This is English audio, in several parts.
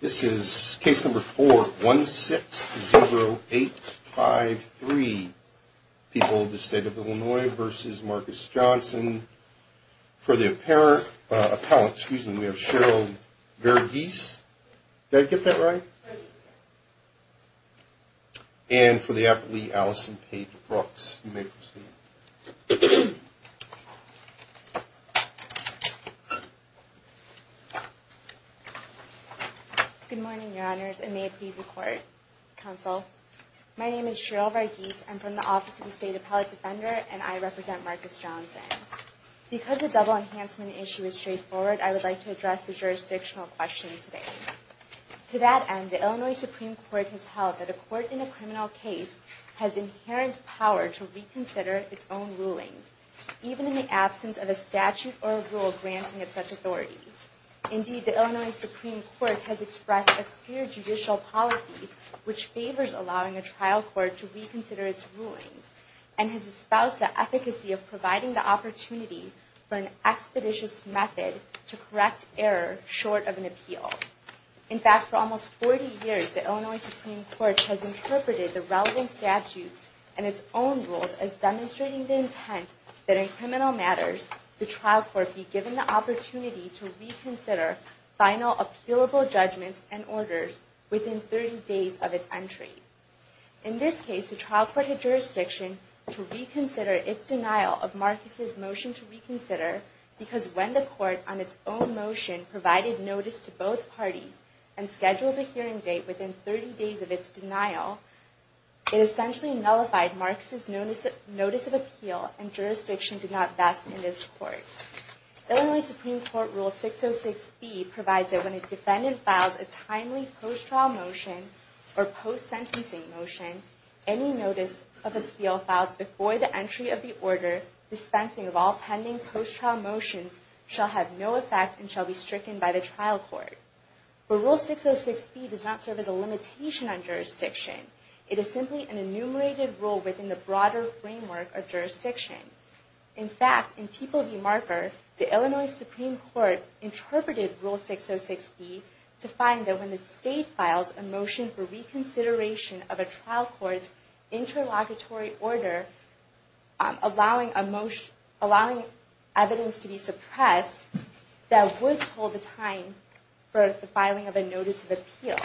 This is case number 4-160-853, People of the State of Illinois v. Marcus Johnson. For the appellant, we have Cheryl Verghese. Did I get that right? And for the appellee, Allison Paige Brooks. You may proceed. Cheryl Verghese Good morning, Your Honors, and may it please the Court, Counsel. My name is Cheryl Verghese. I'm from the Office of the State Appellate Defender, and I represent Marcus Johnson. Because the double enhancement issue is straightforward, I would like to address the jurisdictional question today. To that end, the Illinois Supreme Court has held that a court in a criminal case has inherent power to reconsider its own rulings, even in the absence of a statute or a rule granting it such authority. Indeed, the Illinois Supreme Court has expressed a clear judicial policy which favors allowing a trial court to reconsider its rulings, and has espoused the efficacy of providing the opportunity for an expeditious method to correct error short of an appeal. In fact, for almost 40 years, the Illinois Supreme Court has interpreted the relevant statutes and its own rules as demonstrating the intent that in criminal matters, the trial court be given the opportunity to reconsider final appealable judgments and orders within 30 days of its entry. In this case, the trial court had jurisdiction to reconsider its denial of Marcus' motion to reconsider, because when the Court, on its own motion, provided notice to both parties and scheduled a hearing date within 30 days of its denial, it essentially nullified Marcus' notice of appeal, and jurisdiction did not vest in this Court. The Illinois Supreme Court Rule 606b provides that when a defendant files a timely post-trial motion or post-sentencing motion, any notice of appeal filed before the entry of the order dispensing of all pending post-trial motions shall have no effect and shall be stricken by the trial court. But Rule 606b does not serve as a limitation on jurisdiction. It is simply an enumerated rule within the broader framework of jurisdiction. In fact, in People v. Marker, the Illinois Supreme Court interpreted Rule 606b to find that when the State files a motion for reconsideration of a trial court's interlocutory order, allowing evidence to be suppressed, that would hold the time for the filing of a notice of appeal.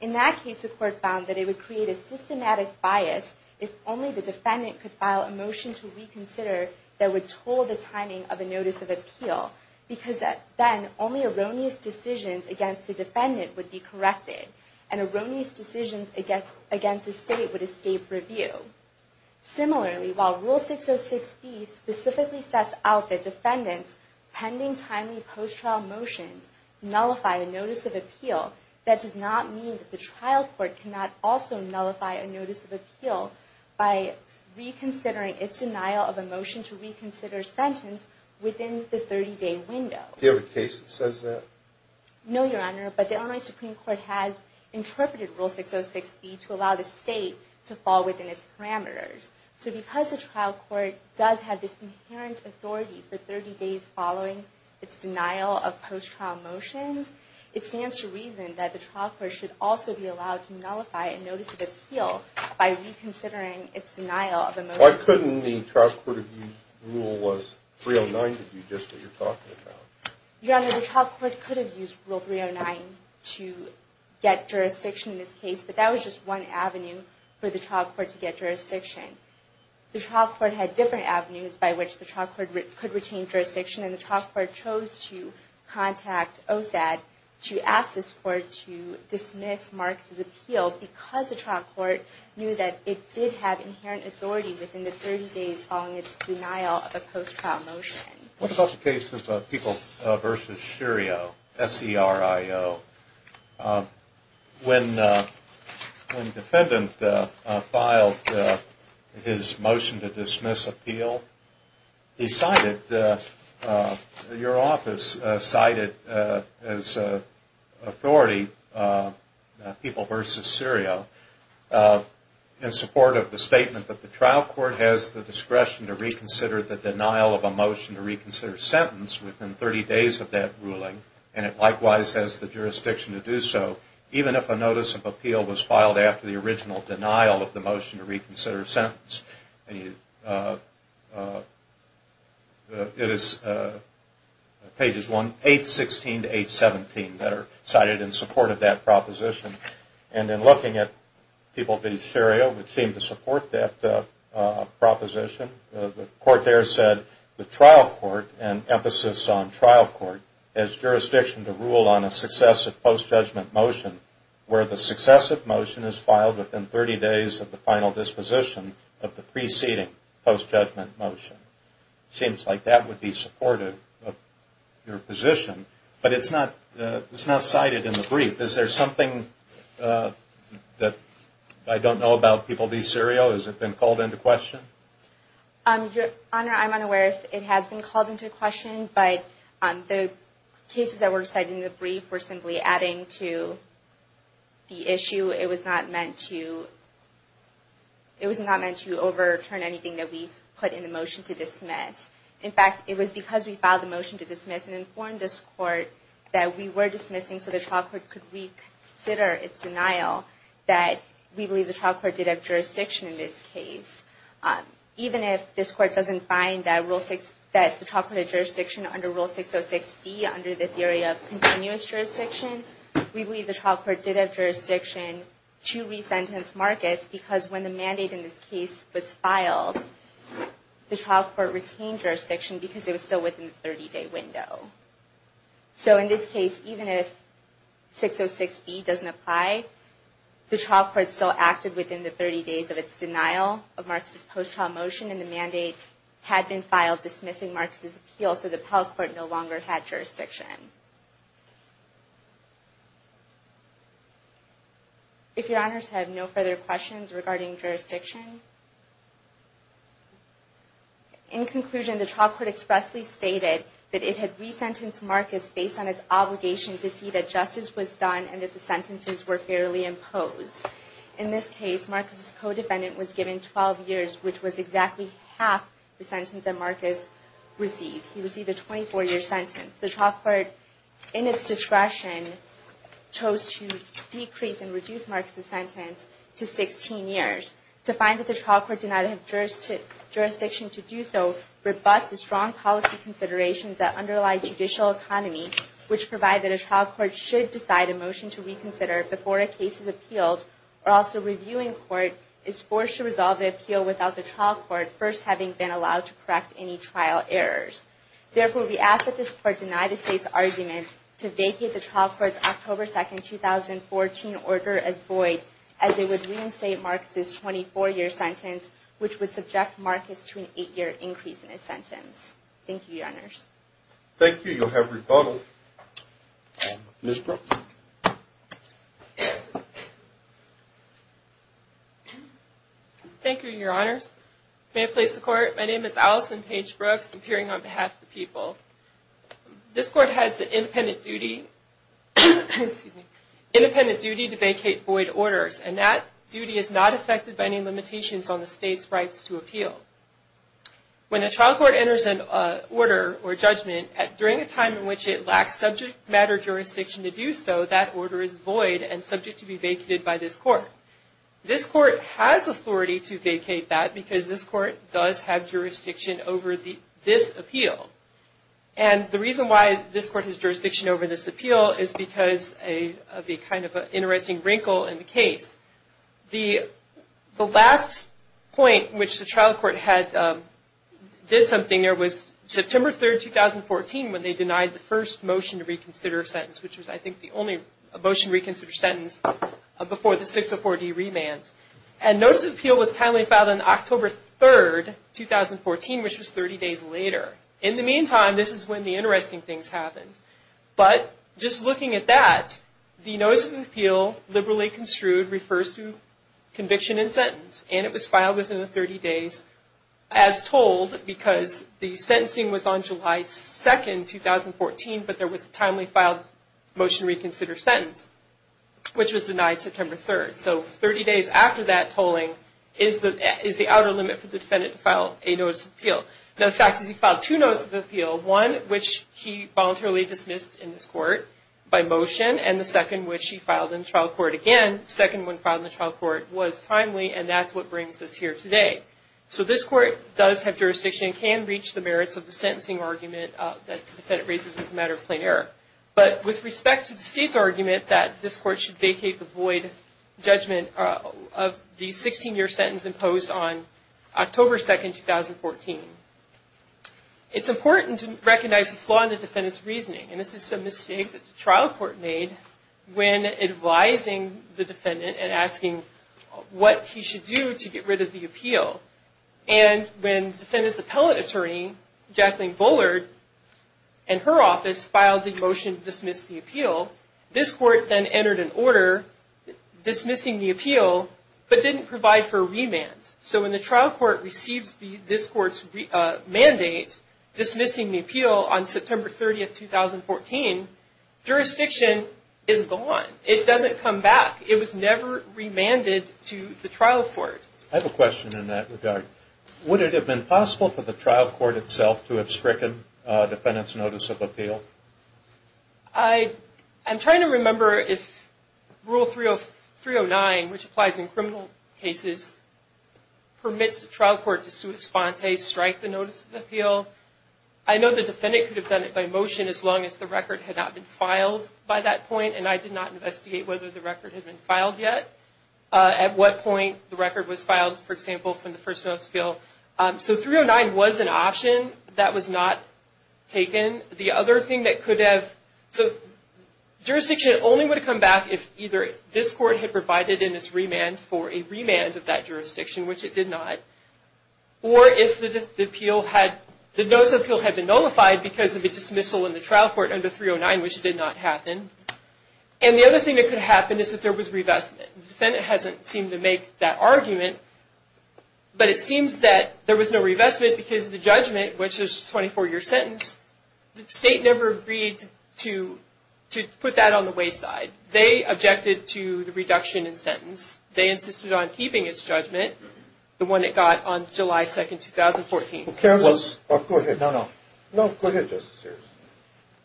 In that case, the Court found that it would create a systematic bias if only the defendant could file a motion to reconsider that would toll the timing of a notice of appeal, because then only erroneous decisions against the defendant would be corrected, and erroneous decisions against the State would escape review. Similarly, while Rule 606b specifically sets out that defendants' pending timely post-trial motions nullify a notice of appeal, that does not mean that the trial court cannot also nullify a notice of appeal by reconsidering its denial of a motion to reconsider sentence within the 30-day window. Do you have a case that says that? No, Your Honor, but the Illinois Supreme Court has interpreted Rule 606b to allow the State to fall within its parameters. So because the trial court does have this inherent authority for 30 days following its denial of post-trial motions, it stands to reason that the trial court should also be allowed to nullify a notice of appeal by reconsidering its denial of a motion. Why couldn't the trial court have used Rule 309 to do just what you're talking about? Your Honor, the trial court could have used Rule 309 to get jurisdiction in this case, but that was just one avenue for the trial court to get jurisdiction. The trial court had different avenues by which the trial court could retain jurisdiction, and the trial court chose to contact OSAD to ask this court to dismiss Marks' appeal because the trial court knew that it did have inherent authority within the 30 days following its denial of a post-trial motion. What about the case of People v. Syrio, S-E-R-I-O? When the defendant filed his motion to dismiss appeal, he cited your office cited as authority, People v. Syrio, in support of the statement that the trial court has the discretion to reconsider the denial of a motion to reconsider sentence within 30 days of that ruling, and it likewise has the jurisdiction to do so, even if a notice of appeal was filed after the original denial of the motion to reconsider sentence. It is pages 816 to 817 that are cited in support of that proposition. And in looking at People v. Syrio, which seemed to support that proposition, the court there said the trial court and emphasis on trial court has jurisdiction to rule on a successive post-judgment motion where the successive motion is filed within 30 days of the final disposition of the preceding post-judgment motion. It seems like that would be supportive of your position, but it's not cited in the brief. Is there something that I don't know about People v. Syrio? Has it been called into question? Your Honor, I'm unaware if it has been called into question, but the cases that were cited in the brief were simply adding to the issue. It was not meant to overturn anything that we put in the motion to dismiss. In fact, it was because we filed the motion to dismiss and informed this court that we were dismissing so the trial court could reconsider its denial that we believe the trial court did have jurisdiction in this case. Even if this court doesn't find that the trial court had jurisdiction under Rule 606B, under the theory of continuous jurisdiction, we believe the trial court did have jurisdiction to resentence Marcus because when the mandate in this case was filed, the trial court retained jurisdiction because it was still within the 30-day window. So in this case, even if 606B doesn't apply, the trial court still acted within the 30 days of its denial of Marcus' post-trial motion and the mandate had been filed dismissing Marcus' appeal so the appellate court no longer had jurisdiction. If Your Honors have no further questions regarding jurisdiction, in conclusion, the trial court expressly stated that it had resentenced Marcus based on its obligation to see that justice was done and that the sentences were fairly imposed. In this case, Marcus' co-defendant was given 12 years, which was exactly half the sentence that Marcus received. He received a 24-year sentence. The trial court, in its discretion, chose to decrease and reduce Marcus' sentence to 16 years to find that the trial court did not have jurisdiction to do so, rebuts the strong policy considerations that underlie judicial economy, which provide that a trial court should decide a motion to reconsider before a case is appealed or else the reviewing court is forced to resolve the appeal without the trial court first having been allowed to correct any trial errors. Therefore, we ask that this court deny the State's argument to vacate the trial court's October 2, 2014 order as void as it would reinstate Marcus' 24-year sentence, which would subject Marcus to an 8-year increase in his sentence. Thank you, Your Honors. Thank you. You'll have rebuttal. Ms. Brooks. Thank you, Your Honors. May it please the Court. My name is Allison Paige Brooks, appearing on behalf of the people. This Court has the independent duty to vacate void orders, and that duty is not affected by any limitations on the State's rights to appeal. When a trial court enters an order or judgment during a time in which it lacks subject matter jurisdiction to do so, that order is void and subject to be vacated by this Court. This Court has authority to vacate that because this Court does have jurisdiction over this appeal. And the reason why this Court has jurisdiction over this appeal is because of the kind of interesting wrinkle in the case. The last point which the trial court did something there was September 3, 2014, when they denied the first motion to reconsider sentence, which was, I think, the only motion to reconsider sentence before the 604D remand. And notice of appeal was timely filed on October 3, 2014, which was 30 days later. In the meantime, this is when the interesting things happened. But just looking at that, the notice of appeal, liberally construed, refers to conviction and sentence, and it was filed within the 30 days as told because the sentencing was on July 2, 2014, but there was a timely filed motion to reconsider sentence, which was denied September 3. So 30 days after that tolling is the outer limit for the defendant to file a notice of appeal. Now the fact is he filed two notices of appeal, one which he voluntarily dismissed in this Court by motion, and the second which he filed in the trial court again. The second one filed in the trial court was timely, and that's what brings us here today. So this Court does have jurisdiction and can reach the merits of the sentencing argument that the defendant raises as a matter of plain error. But with respect to the State's argument that this Court should vacate the void judgment of the 16-year sentence imposed on October 2, 2014, it's important to recognize the flaw in the defendant's reasoning. And this is a mistake that the trial court made when advising the defendant and asking what he should do to get rid of the appeal. And when the defendant's appellate attorney, Jacqueline Bullard, in her office, filed the motion to dismiss the appeal, this Court then entered an order dismissing the appeal but didn't provide for a remand. So when the trial court receives this Court's mandate dismissing the appeal on September 30, 2014, jurisdiction is gone. It doesn't come back. It was never remanded to the trial court. I have a question in that regard. Would it have been possible for the trial court itself to have stricken a defendant's notice of appeal? I'm trying to remember if Rule 309, which applies in criminal cases, permits the trial court to sua sponte, strike the notice of appeal. I know the defendant could have done it by motion as long as the record had not been filed by that point, and I did not investigate whether the record had been filed yet, at what point the record was filed, for example, from the first notice of appeal. So 309 was an option that was not taken. The other thing that could have – so jurisdiction only would have come back if either this Court had provided in its remand for a remand of that jurisdiction, which it did not, or if the notice of appeal had been nullified because of a dismissal in the trial court under 309, which it did not happen. And the other thing that could happen is if there was revestment. The defendant hasn't seemed to make that argument, but it seems that there was no revestment because the judgment, which is a 24-year sentence, the state never agreed to put that on the wayside. They objected to the reduction in sentence. They insisted on keeping its judgment, the one it got on July 2, 2014. Well, go ahead. No, no. No, go ahead, Justice Sears.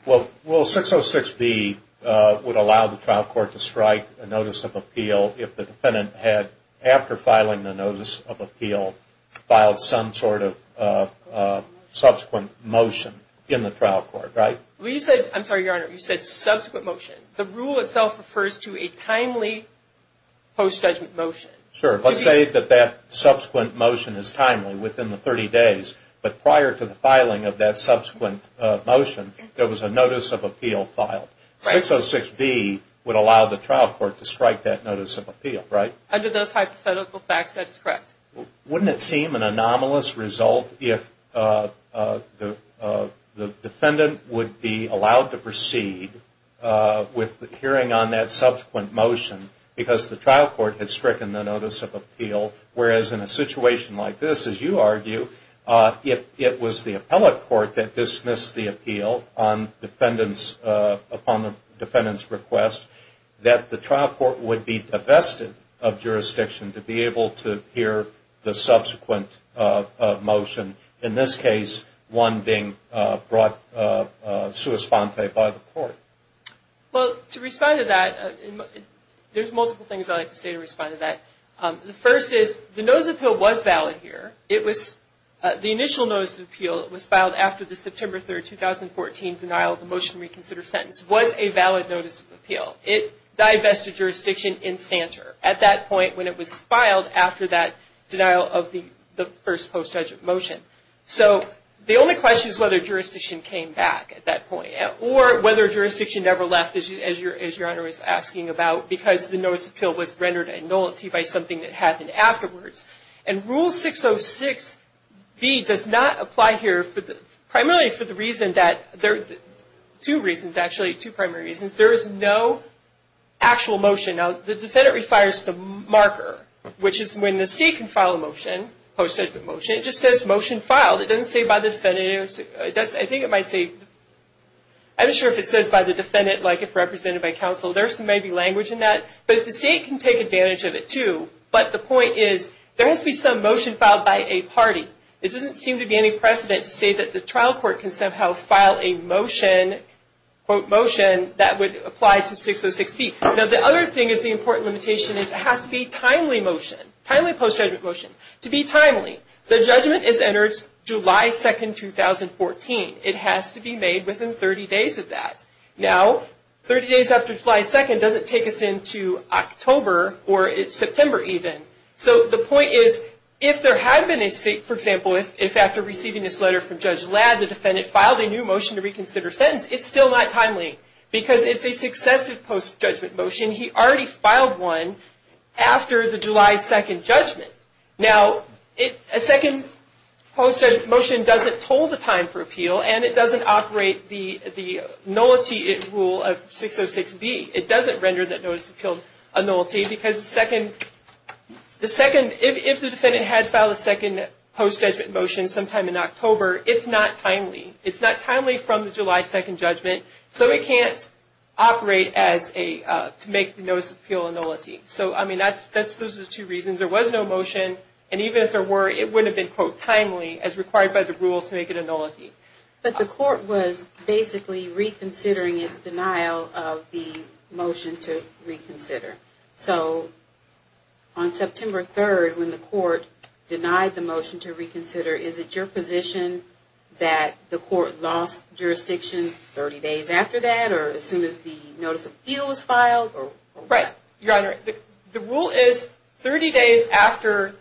Well, 606B would allow the trial court to strike a notice of appeal if the defendant had, after filing the notice of appeal, filed some sort of subsequent motion in the trial court, right? I'm sorry, Your Honor. You said subsequent motion. The rule itself refers to a timely post-judgment motion. Sure. Let's say that that subsequent motion is timely, within the 30 days, but prior to the filing of that subsequent motion, there was a notice of appeal filed. Right. 606B would allow the trial court to strike that notice of appeal, right? Under those hypothetical facts, that is correct. Wouldn't it seem an anomalous result if the defendant would be allowed to proceed with hearing on that subsequent motion because the trial court had stricken the notice of appeal, whereas in a situation like this, as you argue, if it was the appellate court that dismissed the appeal upon the defendant's request, that the trial court would be divested of jurisdiction to be able to hear the subsequent motion, in this case, one being brought sui sponte by the court? Well, to respond to that, there's multiple things I'd like to say to respond to that. The first is the notice of appeal was valid here. The initial notice of appeal that was filed after the September 3, 2014, denial of the motion reconsider sentence was a valid notice of appeal. It divested jurisdiction in Stanter at that point when it was filed after that denial of the first post-judgment motion. So the only question is whether jurisdiction came back at that point or whether jurisdiction never left, as Your Honor is asking about, because the notice of appeal was rendered a nullity by something that happened afterwards. And Rule 606B does not apply here primarily for the reason that there are two primary reasons. There is no actual motion. Now, the defendant requires the marker, which is when the state can file a motion, post-judgment motion. It just says motion filed. It doesn't say by the defendant. I think it might say, I'm not sure if it says by the defendant, like if represented by counsel. There may be language in that. But the state can take advantage of it, too. But the point is there has to be some motion filed by a party. It doesn't seem to be any precedent to say that the trial court can somehow file a motion, quote motion, that would apply to 606B. Now, the other thing is the important limitation is it has to be timely motion, timely post-judgment motion, to be timely. The judgment is entered July 2, 2014. It has to be made within 30 days of that. Now, 30 days after July 2 doesn't take us into October or September even. So the point is if there had been a state, for example, if after receiving this letter from Judge Ladd, the defendant filed a new motion to reconsider sentence, it's still not timely because it's a successive post-judgment motion. He already filed one after the July 2 judgment. Now, a second post-judgment motion doesn't toll the time for appeal, and it doesn't operate the nullity rule of 606B. It doesn't render that notice of appeal a nullity because if the defendant had filed a second post-judgment motion sometime in October, it's not timely. It's not timely from the July 2 judgment, so it can't operate to make the notice of appeal a nullity. So, I mean, those are the two reasons. There was no motion, and even if there were, it wouldn't have been, quote, But the court was basically reconsidering its denial of the motion to reconsider. So on September 3rd, when the court denied the motion to reconsider, is it your position that the court lost jurisdiction 30 days after that or as soon as the notice of appeal was filed? Right, Your Honor. The rule is 30 days after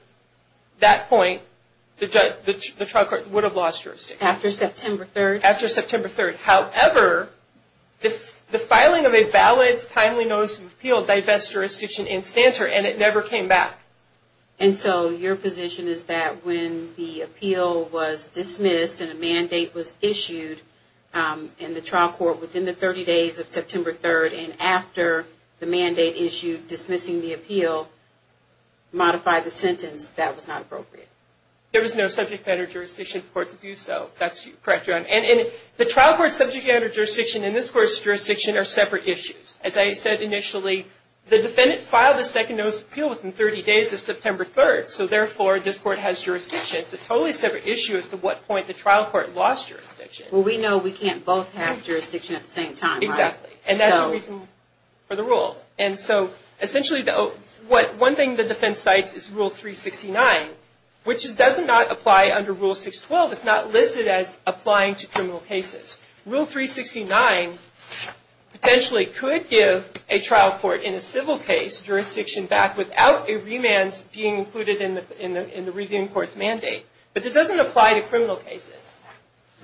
that point, the trial court would have lost jurisdiction. After September 3rd? After September 3rd. However, the filing of a valid, timely notice of appeal divests jurisdiction in stance, and it never came back. And so your position is that when the appeal was dismissed and a mandate was issued in the trial court within the 30 days of September 3rd, and after the mandate issued dismissing the appeal, modify the sentence, that was not appropriate? There was no subject matter jurisdiction for the court to do so. That's correct, Your Honor. And the trial court's subject matter jurisdiction and this court's jurisdiction are separate issues. As I said initially, the defendant filed the second notice of appeal within 30 days of September 3rd, so therefore this court has jurisdiction. It's a totally separate issue as to what point the trial court lost jurisdiction. Well, we know we can't both have jurisdiction at the same time, right? Exactly, and that's the reason for the rule. And so essentially one thing the defense cites is Rule 369, which does not apply under Rule 612. It's not listed as applying to criminal cases. Rule 369 potentially could give a trial court in a civil case jurisdiction back without a remand being included in the reviewing court's mandate, but it doesn't apply to criminal cases.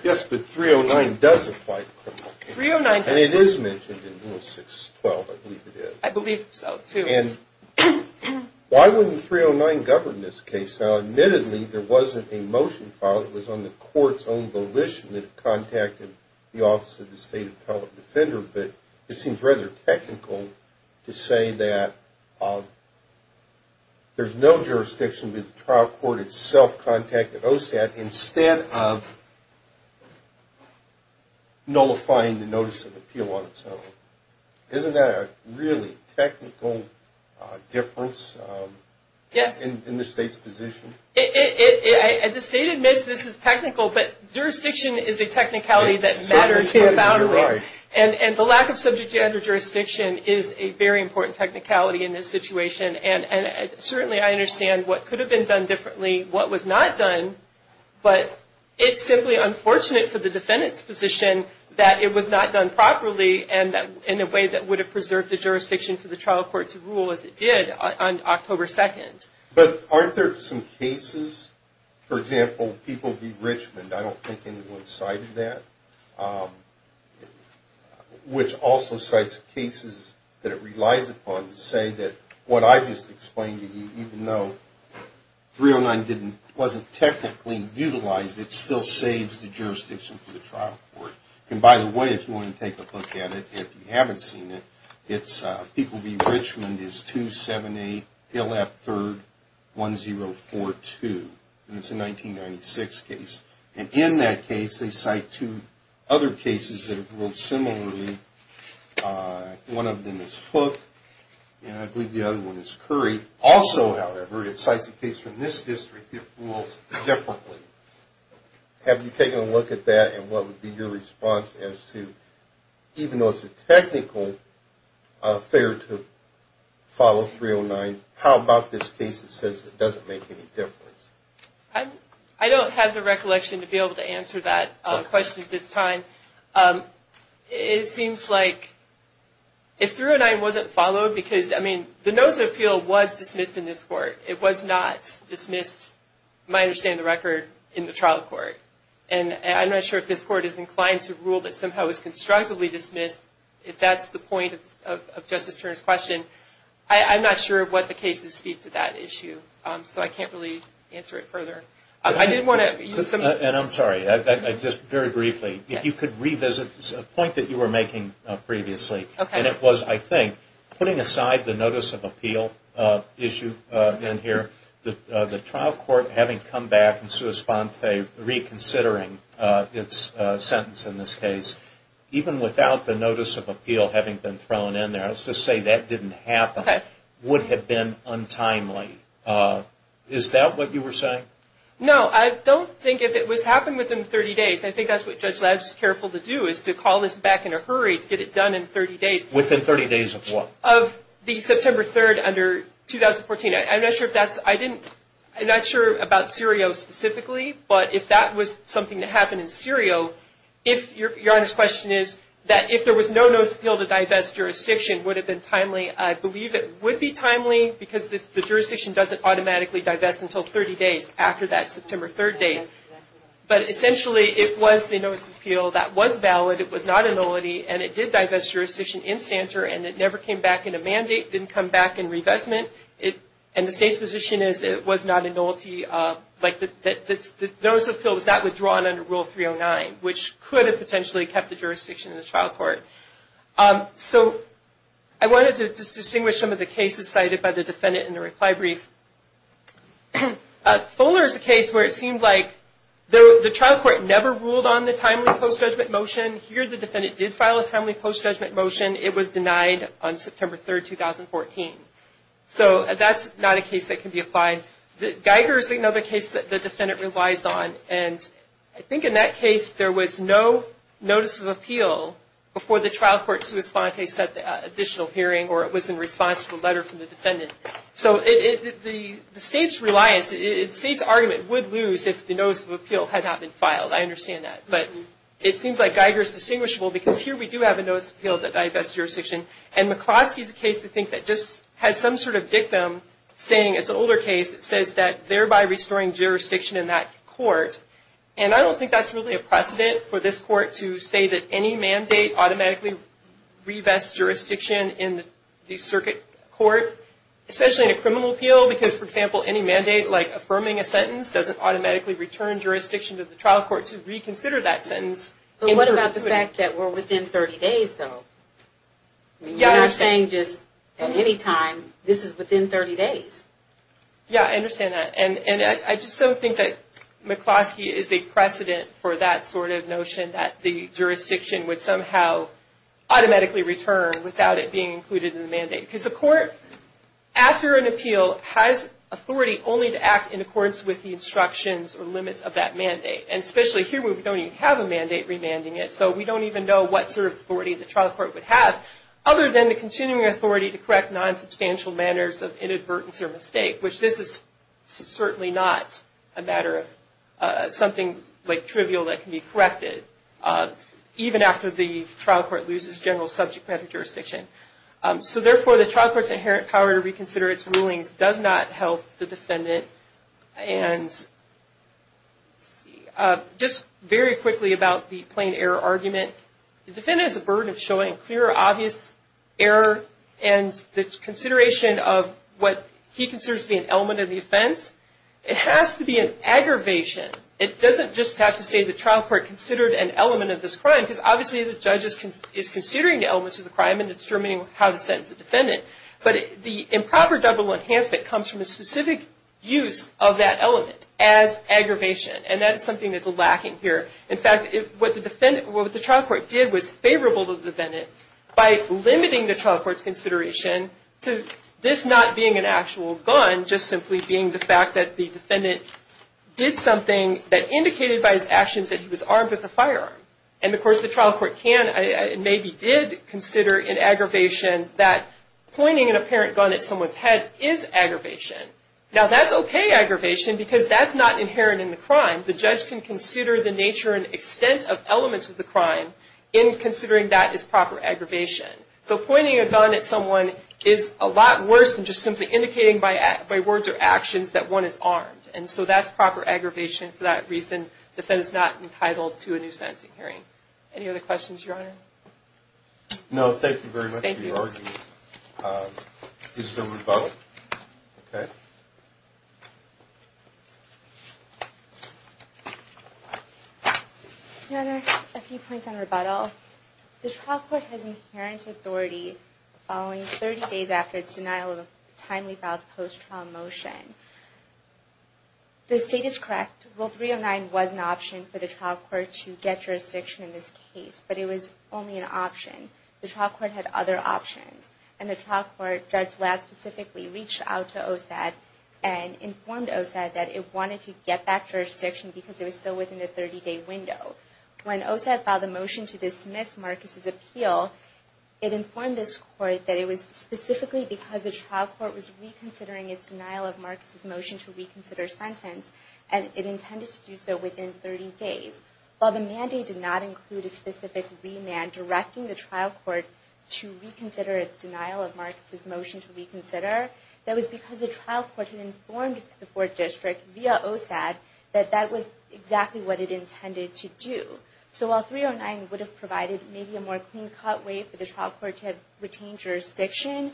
Yes, but 309 does apply to criminal cases. And it is mentioned in Rule 612, I believe it is. I believe so, too. And why wouldn't 309 govern this case? Now, admittedly, there wasn't a motion filed. It was on the court's own volition that it contacted the Office of the State Appellate Defender, but it seems rather technical to say that there's no jurisdiction, but the trial court itself contacted OSAT instead of nullifying the Notice of Appeal on its own. Isn't that a really technical difference in the state's position? The state admits this is technical, but jurisdiction is a technicality that matters profoundly. And the lack of subject-gender jurisdiction is a very important technicality in this situation. And certainly I understand what could have been done differently, what was not done, but it's simply unfortunate for the defendant's position that it was not done properly and in a way that would have preserved the jurisdiction for the trial court to rule as it did on October 2nd. But aren't there some cases, for example, People v. Richmond, I don't think anyone cited that, which also cites cases that it relies upon to say that what I just explained to you, even though 309 wasn't technically utilized, it still saves the jurisdiction for the trial court. And by the way, if you want to take a look at it, if you haven't seen it, it's People v. Richmond is 278 Illap 3rd, 1042, and it's a 1996 case. And in that case, they cite two other cases that have ruled similarly. One of them is Hook, and I believe the other one is Curry. Also, however, it cites a case from this district that rules differently. Have you taken a look at that and what would be your response as to, even though it's a technical affair to follow 309, how about this case that says it doesn't make any difference? I don't have the recollection to be able to answer that question at this time. It seems like if 309 wasn't followed, because, I mean, the notice of appeal was dismissed in this court. It was not dismissed, to my understanding of the record, in the trial court. And I'm not sure if this court is inclined to rule that somehow it was constructively dismissed, if that's the point of Justice Turner's question. I'm not sure what the cases speak to that issue, so I can't really answer it further. And I'm sorry, just very briefly, if you could revisit a point that you were making previously, and it was, I think, putting aside the notice of appeal issue in here, the trial court having come back and sui sponte reconsidering its sentence in this case, even without the notice of appeal having been thrown in there, let's just say that didn't happen, would have been untimely. Is that what you were saying? No, I don't think if it was happening within 30 days. I think that's what Judge Ladd is careful to do, is to call this back in a hurry to get it done in 30 days. Within 30 days of what? Of the September 3rd, under 2014. I'm not sure if that's, I didn't, I'm not sure about Serio specifically, but if that was something that happened in Serio, if, Your Honor's question is, that if there was no notice of appeal to divest jurisdiction, would it have been timely? I believe it would be timely, because the jurisdiction doesn't automatically divest until 30 days after that September 3rd date. But essentially, it was the notice of appeal that was valid, it was not a nullity, and it did divest jurisdiction in Stanter, and it never came back in a mandate, didn't come back in revestment. And the state's position is it was not a nullity, like the notice of appeal was not withdrawn under Rule 309, which could have potentially kept the jurisdiction in the trial court. So I wanted to just distinguish some of the cases cited by the defendant in the reply brief. Fuller is a case where it seemed like the trial court never ruled on the timely post-judgment motion. Here, the defendant did file a timely post-judgment motion. It was denied on September 3rd, 2014. So that's not a case that can be applied. Geiger is another case that the defendant relies on, and I think in that case, there was no notice of appeal before the trial court sui sponte set the additional hearing, or it was in response to a letter from the defendant. So the state's reliance, the state's argument would lose if the notice of appeal had not been filed. I understand that. But it seems like Geiger is distinguishable because here we do have a notice of appeal that divests jurisdiction. And McCloskey is a case, I think, that just has some sort of dictum saying, it's an older case that says that thereby restoring jurisdiction in that court. And I don't think that's really a precedent for this court to say that any mandate automatically revests jurisdiction in the circuit court, especially in a criminal appeal, because, for example, any mandate, like affirming a sentence, doesn't automatically return jurisdiction to the trial court to reconsider that sentence. But what about the fact that we're within 30 days, though? You're not saying just at any time, this is within 30 days. Yeah, I understand that. And I just don't think that McCloskey is a precedent for that sort of notion, that the jurisdiction would somehow automatically return without it being included in the mandate. Because the court, after an appeal, has authority only to act in accordance with the instructions or limits of that mandate. And especially here where we don't even have a mandate remanding it, so we don't even know what sort of authority the trial court would have, other than the continuing authority to correct non-substantial manners of inadvertence or mistake, which this is certainly not a matter of something trivial that can be corrected, even after the trial court loses general subject matter jurisdiction. So therefore, the trial court's inherent power to reconsider its rulings does not help the defendant. And just very quickly about the plain error argument, the defendant is at the burden of showing clear, obvious error, and the consideration of what he considers to be an element of the offense, it has to be an aggravation. It doesn't just have to say the trial court considered an element of this crime, because obviously the judge is considering the elements of the crime and determining how to sentence the defendant. But the improper double enhancement comes from a specific use of that element as aggravation, and that is something that's lacking here. In fact, what the trial court did was favorable to the defendant by limiting the trial court's consideration to this not being an actual gun, just simply being the fact that the defendant did something that indicated by his actions that he was armed with a firearm. And of course the trial court can and maybe did consider an aggravation that pointing an apparent gun at someone's head is aggravation. Now that's okay aggravation, because that's not inherent in the crime. The judge can consider the nature and extent of elements of the crime in considering that as proper aggravation. So pointing a gun at someone is a lot worse than just simply indicating by words or actions that one is armed. And so that's proper aggravation for that reason, the defendant is not entitled to a new sentencing hearing. Any other questions, Your Honor? No, thank you very much for your argument. Is there rebuttal? Your Honor, a few points on rebuttal. First of all, the trial court has inherent authority following 30 days after its denial of timely files post-trial motion. The state is correct. Rule 309 was an option for the trial court to get jurisdiction in this case, but it was only an option. The trial court had other options, and the trial court, Judge Ladd specifically, reached out to OSAD and informed OSAD that it wanted to get that jurisdiction because it was still within the 30-day window. When OSAD filed a motion to dismiss Marcus' appeal, it informed this court that it was specifically because the trial court was reconsidering its denial of Marcus' motion to reconsider sentence, and it intended to do so within 30 days. While the mandate did not include a specific remand directing the trial court to reconsider its denial of Marcus' motion to reconsider, that was because the trial court had informed the court district via OSAD that that was exactly what it intended to do. So while 309 would have provided maybe a more clean-cut way for the trial court to have retained jurisdiction,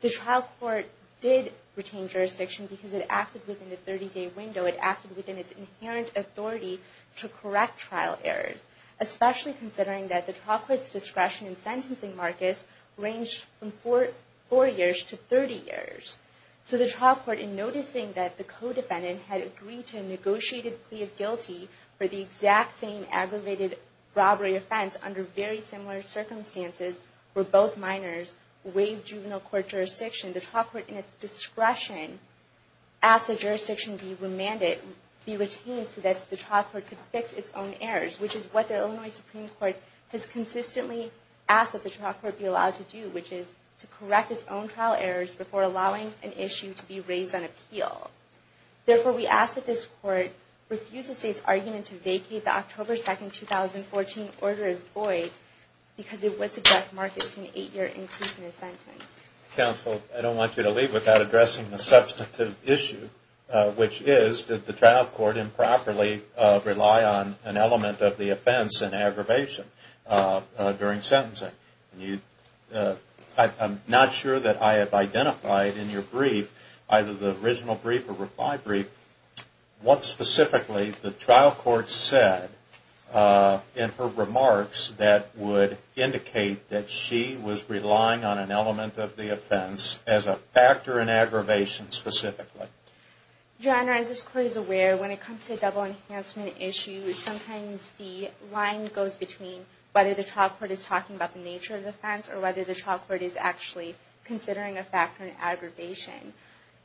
the trial court did retain jurisdiction because it acted within the 30-day window. It acted within its inherent authority to correct trial errors, especially considering that the trial court's discretion in sentencing Marcus ranged from four years to 30 years. So the trial court, in noticing that the co-defendant had agreed to a negotiated plea of guilty for the exact same aggravated robbery offense under very similar circumstances where both minors waived juvenile court jurisdiction, the trial court, in its discretion, asked that jurisdiction be retained so that the trial court could fix its own errors, which is what the Illinois Supreme Court has consistently asked that the trial court be allowed to do, which is to correct its own trial errors before allowing an issue to be raised on appeal. Therefore, we ask that this court refuse the State's argument to vacate the October 2, 2014 order as void because it would subject Marcus to an eight-year increase in his sentence. Counsel, I don't want you to leave without addressing the substantive issue, which is, did the trial court improperly rely on an element of the offense in aggravation during sentencing? I'm not sure that I have identified in your brief, either the original brief or reply brief, what specifically the trial court said in her remarks that would indicate that she was relying on an element of the offense as a factor in aggravation specifically. John, as this court is aware, when it comes to double enhancement issues, sometimes the line goes between whether the trial court is talking about the nature of the offense or whether the trial court is actually considering a factor in aggravation.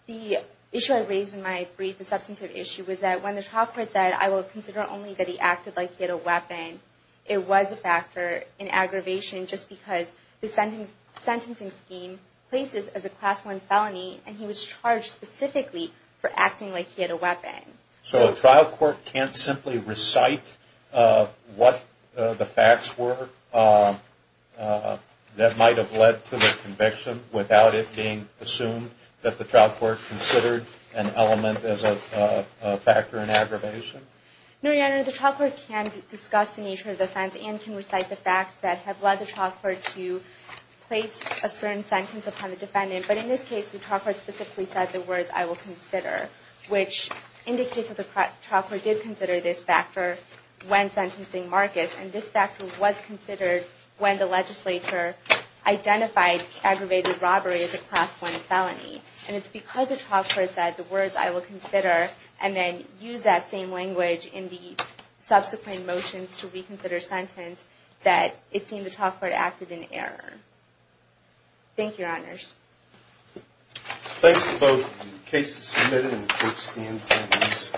The issue I raised in my brief, the substantive issue, was that when the trial court said, I will consider only that he acted like he had a weapon, it was a factor in aggravation just because the sentencing scheme places as a Class I felony and he was charged specifically for acting like he had a weapon. So a trial court can't simply recite what the facts were that might have led to the conviction without it being assumed that the trial court considered an element as a factor in aggravation? No, Your Honor. The trial court can discuss the nature of the offense and can recite the facts that have led the trial court to place a certain sentence upon the defendant. But in this case, the trial court specifically said the words, I will consider, which indicates that the trial court did consider this factor when sentencing Marcus, and this factor was considered when the legislature identified aggravated robbery as a Class I felony. And it's because the trial court said the words, I will consider, and then used that same language in the subsequent motions Thank you, Your Honors. Thanks to both the cases submitted and the court's standings.